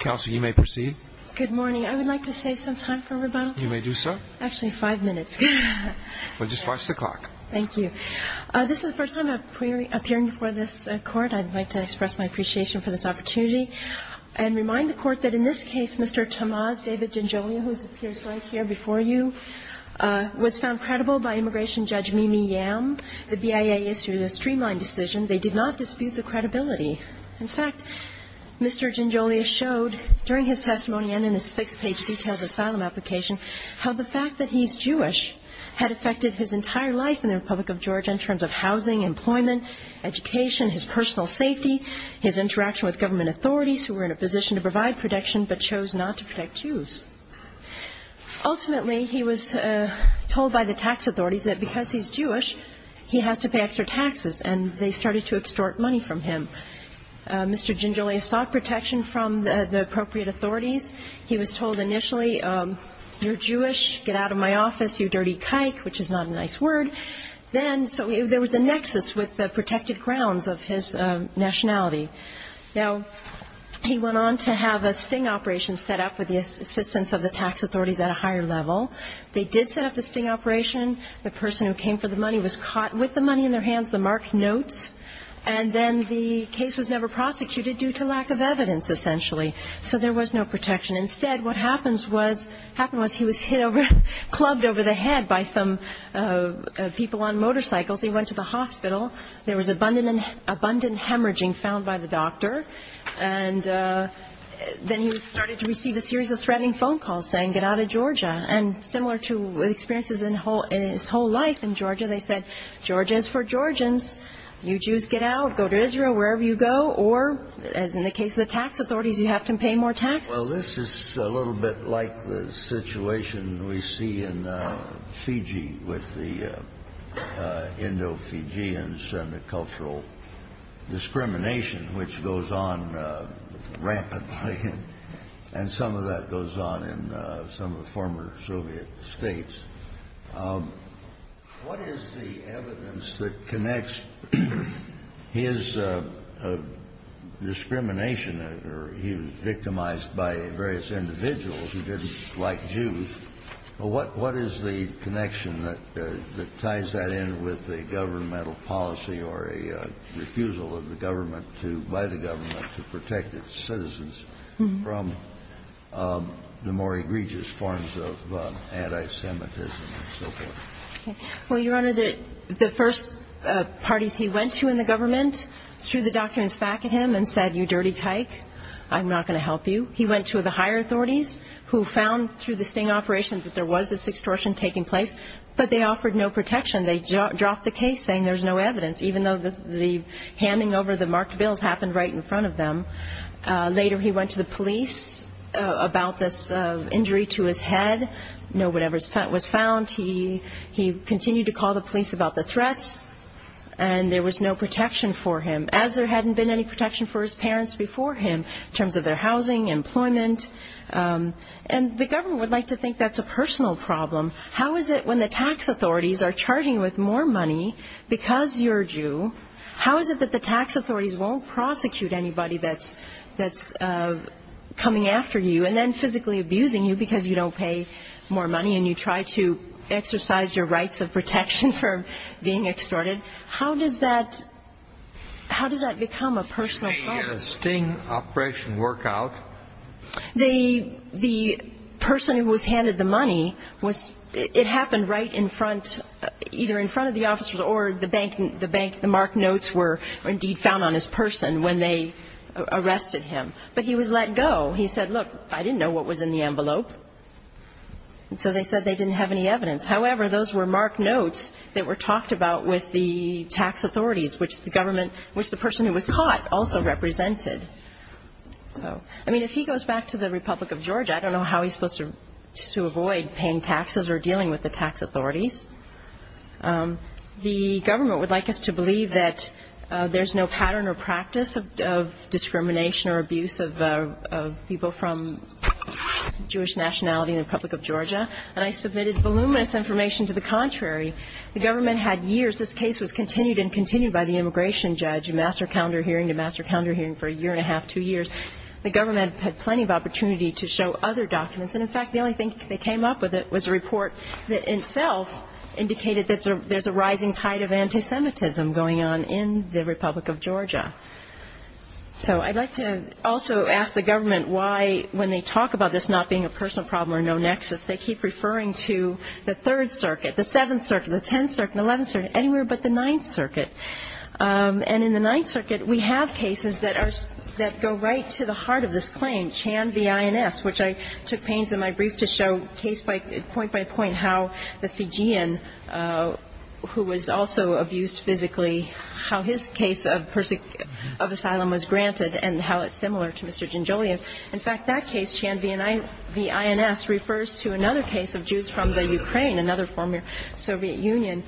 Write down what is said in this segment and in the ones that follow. Counsel, you may proceed. Good morning. I would like to save some time for rebuttal. You may do so. Actually, five minutes. Well, just watch the clock. Thank you. This is the first time I'm appearing before this court. I'd like to express my appreciation for this opportunity and remind the court that in this case, Mr. Tamaz David-Jonjolia, who appears right here before you, was found credible by immigration judge Mimi Yam. The BIA issued a streamlined decision. They did not dispute the credibility. In fact, Mr. Jonjolia showed during his testimony and in a six-page detailed asylum application how the fact that he's Jewish had affected his entire life in the Republic of Georgia in terms of housing, employment, education, his personal safety, his interaction with government authorities who were in a position to provide protection but chose not to protect Jews. And he was told that if he was Jewish, he has to pay extra taxes, and they started to extort money from him. Mr. Jonjolia sought protection from the appropriate authorities. He was told initially, you're Jewish, get out of my office, you dirty kike, which is not a nice word. Then, so there was a nexus with the protected grounds of his nationality. Now, he went on to have a sting operation set up with the assistance of the tax authorities at a higher level. They did set up the sting operation. The person who came for the money was caught with the money in their hands, the marked notes. And then the case was never prosecuted due to lack of evidence, essentially. So there was no protection. Instead, what happened was he was hit over, clubbed over the head by some people on motorcycles. He went to the hospital. There was abundant hemorrhaging found by the doctor. And then he started to receive a series of threatening phone calls saying, get out of Georgia. And similar to experiences in his whole life in Georgia, they said, Georgia is for Georgians. You Jews get out, go to Israel, wherever you go. Or, as in the case of the tax authorities, you have to pay more taxes. Well, this is a little bit like the situation we see in Fiji with the Indo-Fijians and the cultural discrimination, which goes on rampantly. And some of that goes on in some of the former Soviet states. What is the evidence that connects his discrimination? He was victimized by various individuals who didn't like Jews. What is the connection that ties that in with a governmental policy or a refusal of the government to buy the government to protect its citizens from the more egregious forms of anti-Semitism and so forth? Well, Your Honor, the first parties he went to in the government threw the documents back at him and said, you dirty tyke, I'm not going to help you. He went to the higher authorities, who found through the sting operations that there was this extortion taking place, but they offered no protection. They dropped the case, saying there's no evidence, even though the handing over the marked bills happened right in front of them. Later he went to the police about this injury to his head. No one ever was found. He continued to call the police about the threats, and there was no protection for him, as there hadn't been any protection for his parents before him in terms of their housing, employment. And the government would like to think that's a personal problem. How is it when the tax authorities are charging you with more money because you're a Jew, how is it that the tax authorities won't prosecute anybody that's coming after you and then physically abusing you because you don't pay more money and you try to exercise your rights of protection for being extorted? How does that become a personal problem? A sting operation work out. The person who was handed the money, it happened right in front, either in front of the officers or the marked notes were indeed found on his person when they arrested him. But he was let go. He said, look, I didn't know what was in the envelope. So they said they didn't have any evidence. However, those were marked notes that were talked about with the tax authorities, which the person who was caught also represented. I mean, if he goes back to the Republic of Georgia, I don't know how he's supposed to avoid paying taxes or dealing with the tax authorities. The government would like us to believe that there's no pattern or practice of discrimination or abuse of people from Jewish nationality in the Republic of Georgia. And I submitted voluminous information to the contrary. The government had years. This case was continued and continued by the immigration judge, a master calendar hearing to master calendar hearing for a year and a half, two years. The government had plenty of opportunity to show other documents. And, in fact, the only thing they came up with was a report that itself indicated that there's a rising tide of anti-Semitism going on in the Republic of Georgia. So I'd like to also ask the government why when they talk about this not being a personal problem or no nexus, they keep referring to the Third Circuit, the Seventh Circuit, the Tenth Circuit, the Eleventh Circuit, anywhere but the Ninth Circuit. And in the Ninth Circuit, we have cases that are – that go right to the heart of this claim, Chan v. INS, which I took pains in my brief to show case by – point by point how the Fijian, who was also abused physically, how his case of asylum was granted and how it's similar to Mr. Janjulian's. In fact, that case, Chan v. INS, refers to another case of Jews from the Ukraine, another former Soviet Union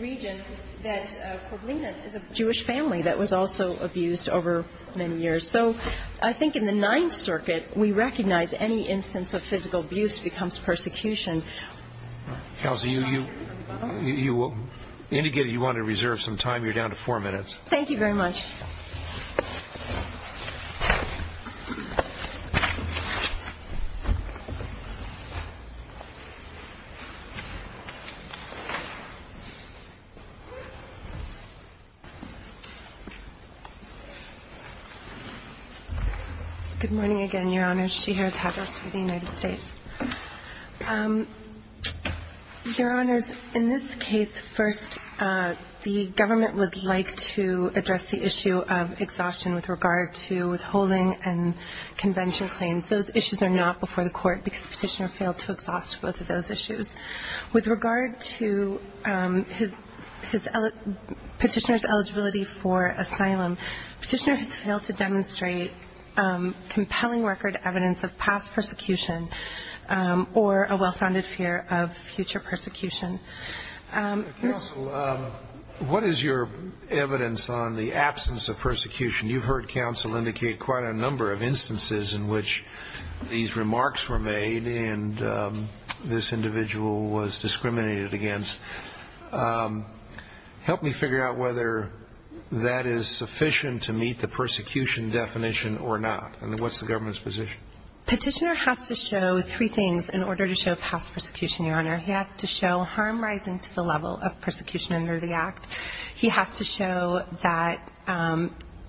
region, that Koblenin is a Jewish family that was also abused over many years. So I think in the Ninth Circuit, we recognize any instance of physical abuse becomes persecution. Kelsie, you indicated you wanted to reserve some time. You're down to four minutes. Thank you very much. Good morning again, Your Honors. Shihira Tadros for the United States. Your Honors, in this case, first, the government would like to address the issue of exhaustion with regard to withholding and convention claims. Those issues are not before the Court because Petitioner failed to exhaust both of those issues. With regard to his – Petitioner's eligibility for asylum, Petitioner has failed to demonstrate compelling record evidence of past persecution or a well-founded fear of future persecution. Counsel, what is your evidence on the absence of persecution? You've heard counsel indicate quite a number of instances in which these remarks were made and this individual was discriminated against. Help me figure out whether that is sufficient to meet the persecution definition or not. And what's the government's position? Petitioner has to show three things in order to show past persecution, Your Honor. He has to show harm rising to the level of persecution under the Act. He has to show that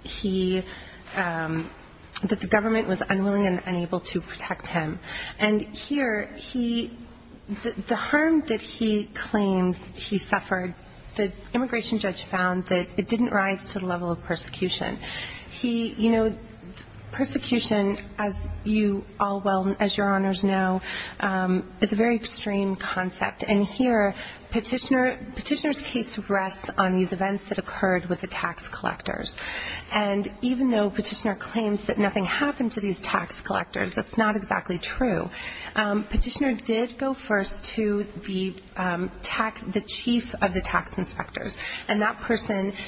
he – that the government was unwilling and unable to protect him. And here, he – the harm that he claims he suffered, the immigration judge found that it didn't rise to the level of persecution. He – you know, persecution, as you all well – as Your Honors know, is a very extreme concept. And here, Petitioner – Petitioner's case rests on these events that occurred with the tax collectors. And even though Petitioner claims that nothing happened to these tax collectors, that's not exactly true. Petitioner did go first to the chief of the tax inspectors. And that person –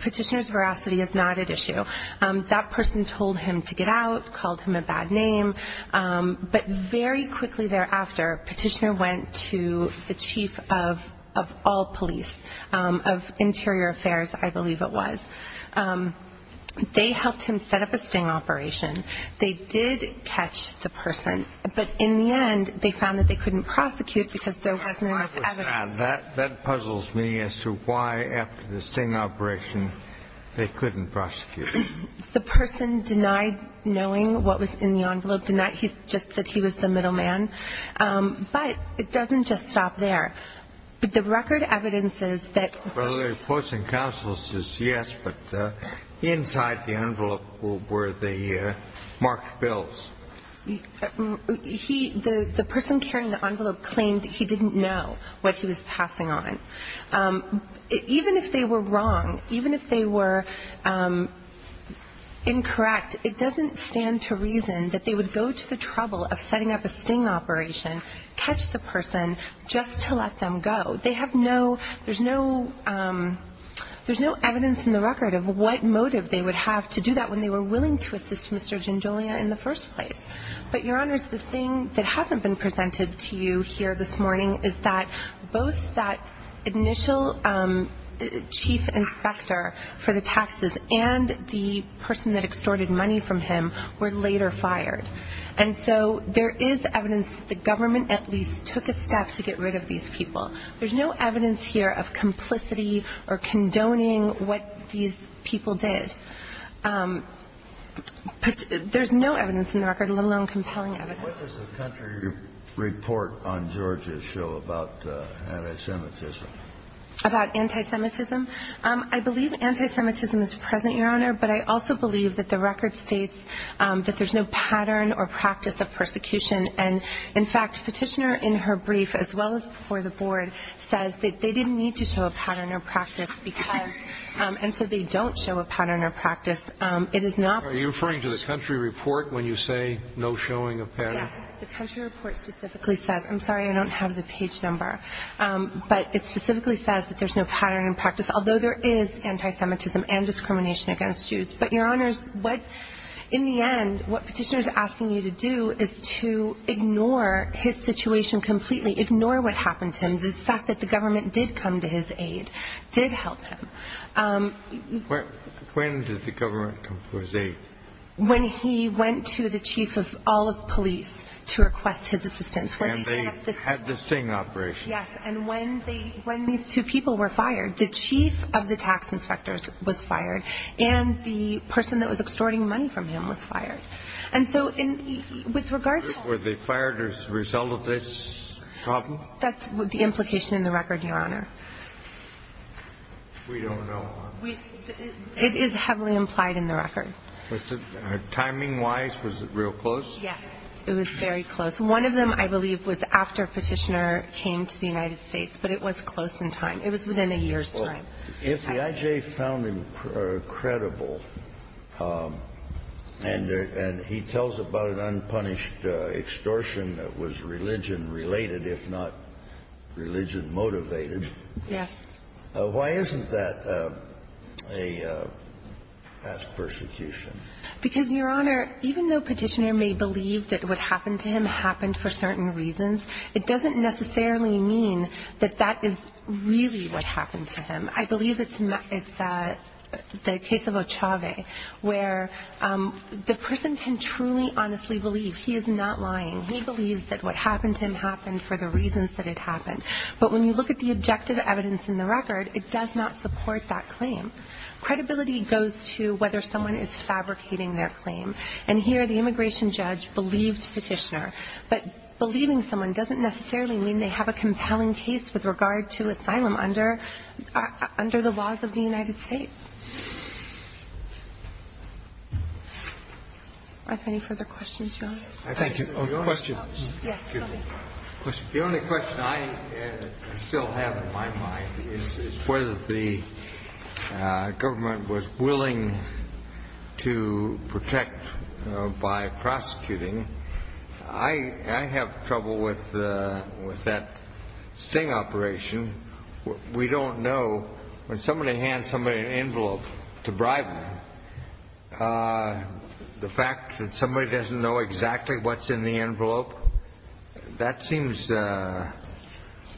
Petitioner's veracity is not at issue. That person told him to get out, called him a bad name. But very quickly thereafter, Petitioner went to the chief of all police, of Interior Affairs, I believe it was. They helped him set up a sting operation. They did catch the person. But in the end, they found that they couldn't prosecute because there wasn't enough evidence. That puzzles me as to why, after the sting operation, they couldn't prosecute. The person denied knowing what was in the envelope, denied just that he was the middleman. But it doesn't just stop there. The record evidences that – Well, the opposing counsel says yes, but inside the envelope were the marked bills. He – the person carrying the envelope claimed he didn't know what he was passing on. Even if they were wrong, even if they were incorrect, it doesn't stand to reason that they would go to the trouble of setting up a sting operation, catch the person just to let them go. They have no – there's no – there's no evidence in the record of what motive they would have to do that when they were willing to assist Mr. Gingolia in the first place. But, Your Honors, the thing that hasn't been presented to you here this morning is that both that initial chief inspector for the taxes and the person that extorted money from him were later fired. And so there is evidence that the government at least took a step to get rid of these people. There's no evidence here of complicity or condoning what these people did. There's no evidence in the record, let alone compelling evidence. What does the country report on Georgia show about anti-Semitism? About anti-Semitism? I believe anti-Semitism is present, Your Honor, but I also believe that the record states that there's no pattern or practice of persecution. And, in fact, Petitioner in her brief, as well as before the Board, says that they didn't need to show a pattern or practice because – and so they don't show a pattern or practice. It is not – Are you referring to the country report when you say no showing of pattern? Yes. The country report specifically says – I'm sorry, I don't have the page number – but it specifically says that there's no pattern and practice, although there is anti-Semitism and discrimination against Jews. But, Your Honors, what – in the end, what Petitioner is asking you to do is to ignore his situation completely, ignore what happened to him. The fact that the government did come to his aid did help him. When did the government come to his aid? When he went to the chief of all of police to request his assistance. And they had the same operation? Yes. And when they – when these two people were fired, the chief of the tax inspectors was fired and the person that was extorting money from him was fired. And so, with regard to – Were they fired as a result of this problem? That's the implication in the record, Your Honor. We don't know, Your Honor. It is heavily implied in the record. Was it – timing-wise, was it real close? Yes. It was very close. One of them, I believe, was after Petitioner came to the United States, but it was close in time. It was within a year's time. If the IJ found him credible and he tells about an unpunished extortion that was religion-related, if not religion-motivated, Yes. why isn't that a past persecution? Because, Your Honor, even though Petitioner may believe that what happened to him happened for certain reasons, it doesn't necessarily mean that that is really what happened to him. I believe it's the case of Ochave, where the person can truly, honestly believe. He is not lying. He believes that what happened to him happened for the reasons that it happened. But when you look at the objective evidence in the record, it does not support that claim. Credibility goes to whether someone is fabricating their claim. And here, the immigration judge believed Petitioner. But believing someone doesn't necessarily mean they have a compelling case with regard to asylum under the laws of the United States. Do I have any further questions, Your Honor? Thank you. The only question I still have in my mind is whether the government was willing to protect by prosecuting. I have trouble with that sting operation. We don't know. When somebody hands somebody an envelope to bribe them, the fact that somebody doesn't know exactly what's in the envelope, that seems an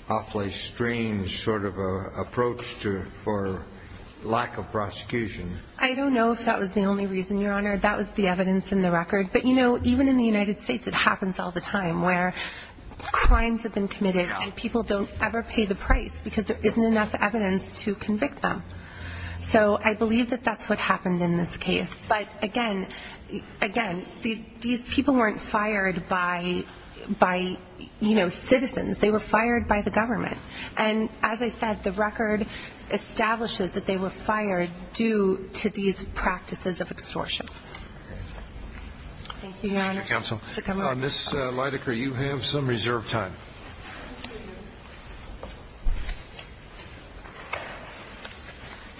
awfully strange sort of approach for lack of prosecution. I don't know if that was the only reason, Your Honor. That was the evidence in the record. But, you know, even in the United States, it happens all the time, where crimes have been committed and people don't ever pay the price because there isn't enough evidence to convict them. So I believe that that's what happened in this case. But, again, these people weren't fired by, you know, citizens. They were fired by the government. And as I said, the record establishes that they were fired due to these practices of extortion. Thank you, Your Honor. Thank you, Counsel. Ms. Leidecker, you have some reserve time.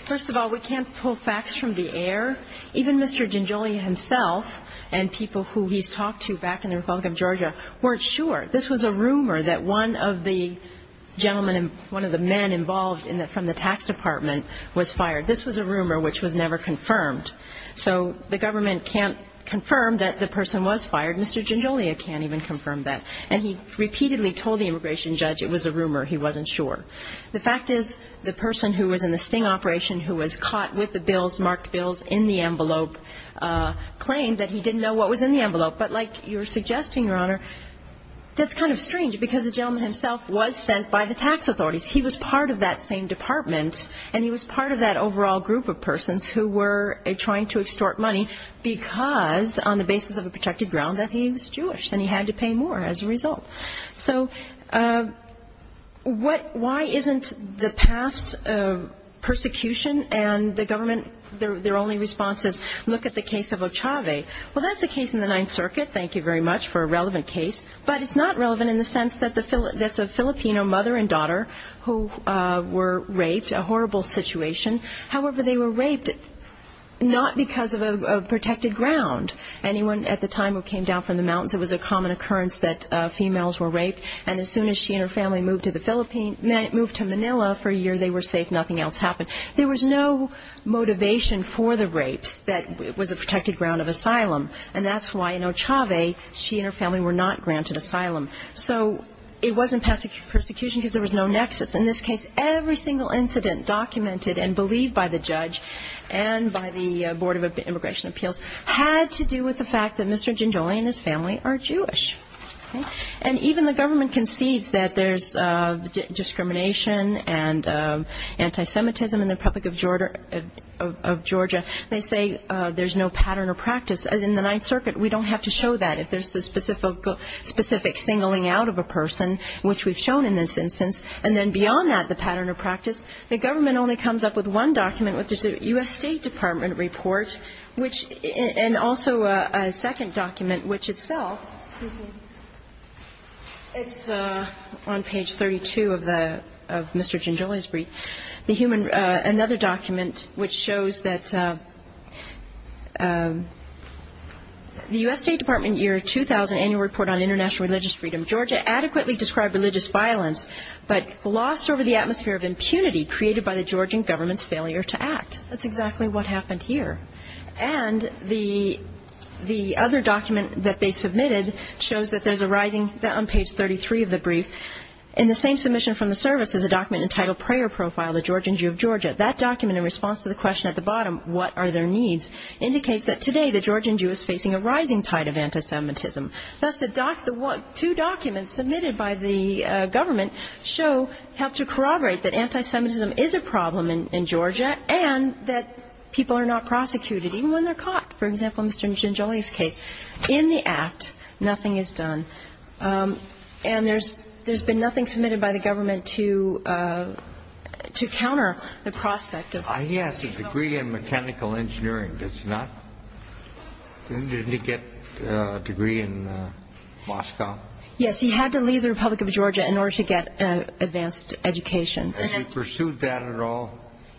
First of all, we can't pull facts from the air. Even Mr. Gingelli himself and people who he's talked to back in the Republic of Georgia weren't sure. This was a rumor that one of the gentlemen, one of the men involved from the tax department was fired. This was a rumor which was never confirmed. So the government can't confirm that the person was fired. Mr. Gingelli can't even confirm that. And he repeatedly told the immigration judge it was a rumor. He wasn't sure. The fact is the person who was in the sting operation, who was caught with the marked bills in the envelope, claimed that he didn't know what was in the envelope. But like you were suggesting, Your Honor, that's kind of strange because the gentleman himself was sent by the tax authorities. He was part of that same department, and he was part of that overall group of persons who were trying to extort money because, on the basis of a protected ground, that he was Jewish, and he had to pay more as a result. So why isn't the past persecution and the government, their only response is, look at the case of Ochave? Well, that's a case in the Ninth Circuit, thank you very much, for a relevant case. But it's not relevant in the sense that it's a Filipino mother and daughter who were raped, a horrible situation. However, they were raped not because of a protected ground. Anyone at the time who came down from the mountains, it was a common occurrence that females were raped, and as soon as she and her family moved to Manila for a year, they were safe. Nothing else happened. There was no motivation for the rapes that was a protected ground of asylum, and that's why in Ochave she and her family were not granted asylum. So it wasn't past persecution because there was no nexus. In this case, every single incident documented and believed by the judge and by the Board of Immigration Appeals had to do with the fact that Mr. Gingoli and his family are Jewish. And even the government concedes that there's discrimination and anti-Semitism in the Republic of Georgia. They say there's no pattern or practice. In the Ninth Circuit, we don't have to show that. If there's a specific singling out of a person, which we've shown in this instance, and then beyond that the pattern or practice, the government only comes up with one document, which is a U.S. State Department report, and also a second document, which itself, it's on page 32 of Mr. Gingoli's brief, another document which shows that the U.S. State Department year 2000 annual report on international religious freedom. Georgia adequately described religious violence, but glossed over the atmosphere of impunity created by the Georgian government's failure to act. That's exactly what happened here. And the other document that they submitted shows that there's a rising, that on page 33 of the brief, in the same submission from the service, is a document entitled Prayer Profile, the Georgian Jew of Georgia. That document, in response to the question at the bottom, what are their needs, indicates that today the Georgian Jew is facing a rising tide of anti-Semitism. Thus, the two documents submitted by the government show, help to corroborate that anti-Semitism is a problem in Georgia and that people are not prosecuted, even when they're caught. For example, Mr. Gingoli's case. In the act, nothing is done. And there's been nothing submitted by the government to counter the prospect of. He has a degree in mechanical engineering. Didn't he get a degree in Moscow? Yes, he had to leave the Republic of Georgia in order to get an advanced education. Has he pursued that at all?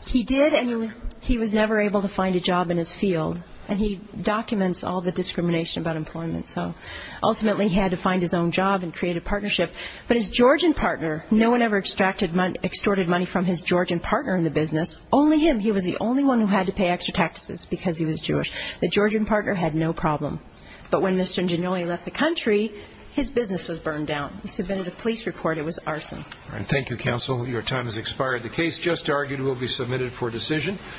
He did, and he was never able to find a job in his field. And he documents all the discrimination about employment, so ultimately he had to find his own job and create a partnership. But his Georgian partner, no one ever extorted money from his Georgian partner in the business, only him. He was the only one who had to pay extra taxes because he was Jewish. The Georgian partner had no problem. But when Mr. Gingoli left the country, his business was burned down. He submitted a police report. It was arson. Thank you, counsel. Your time has expired. The case just argued will be submitted for decision.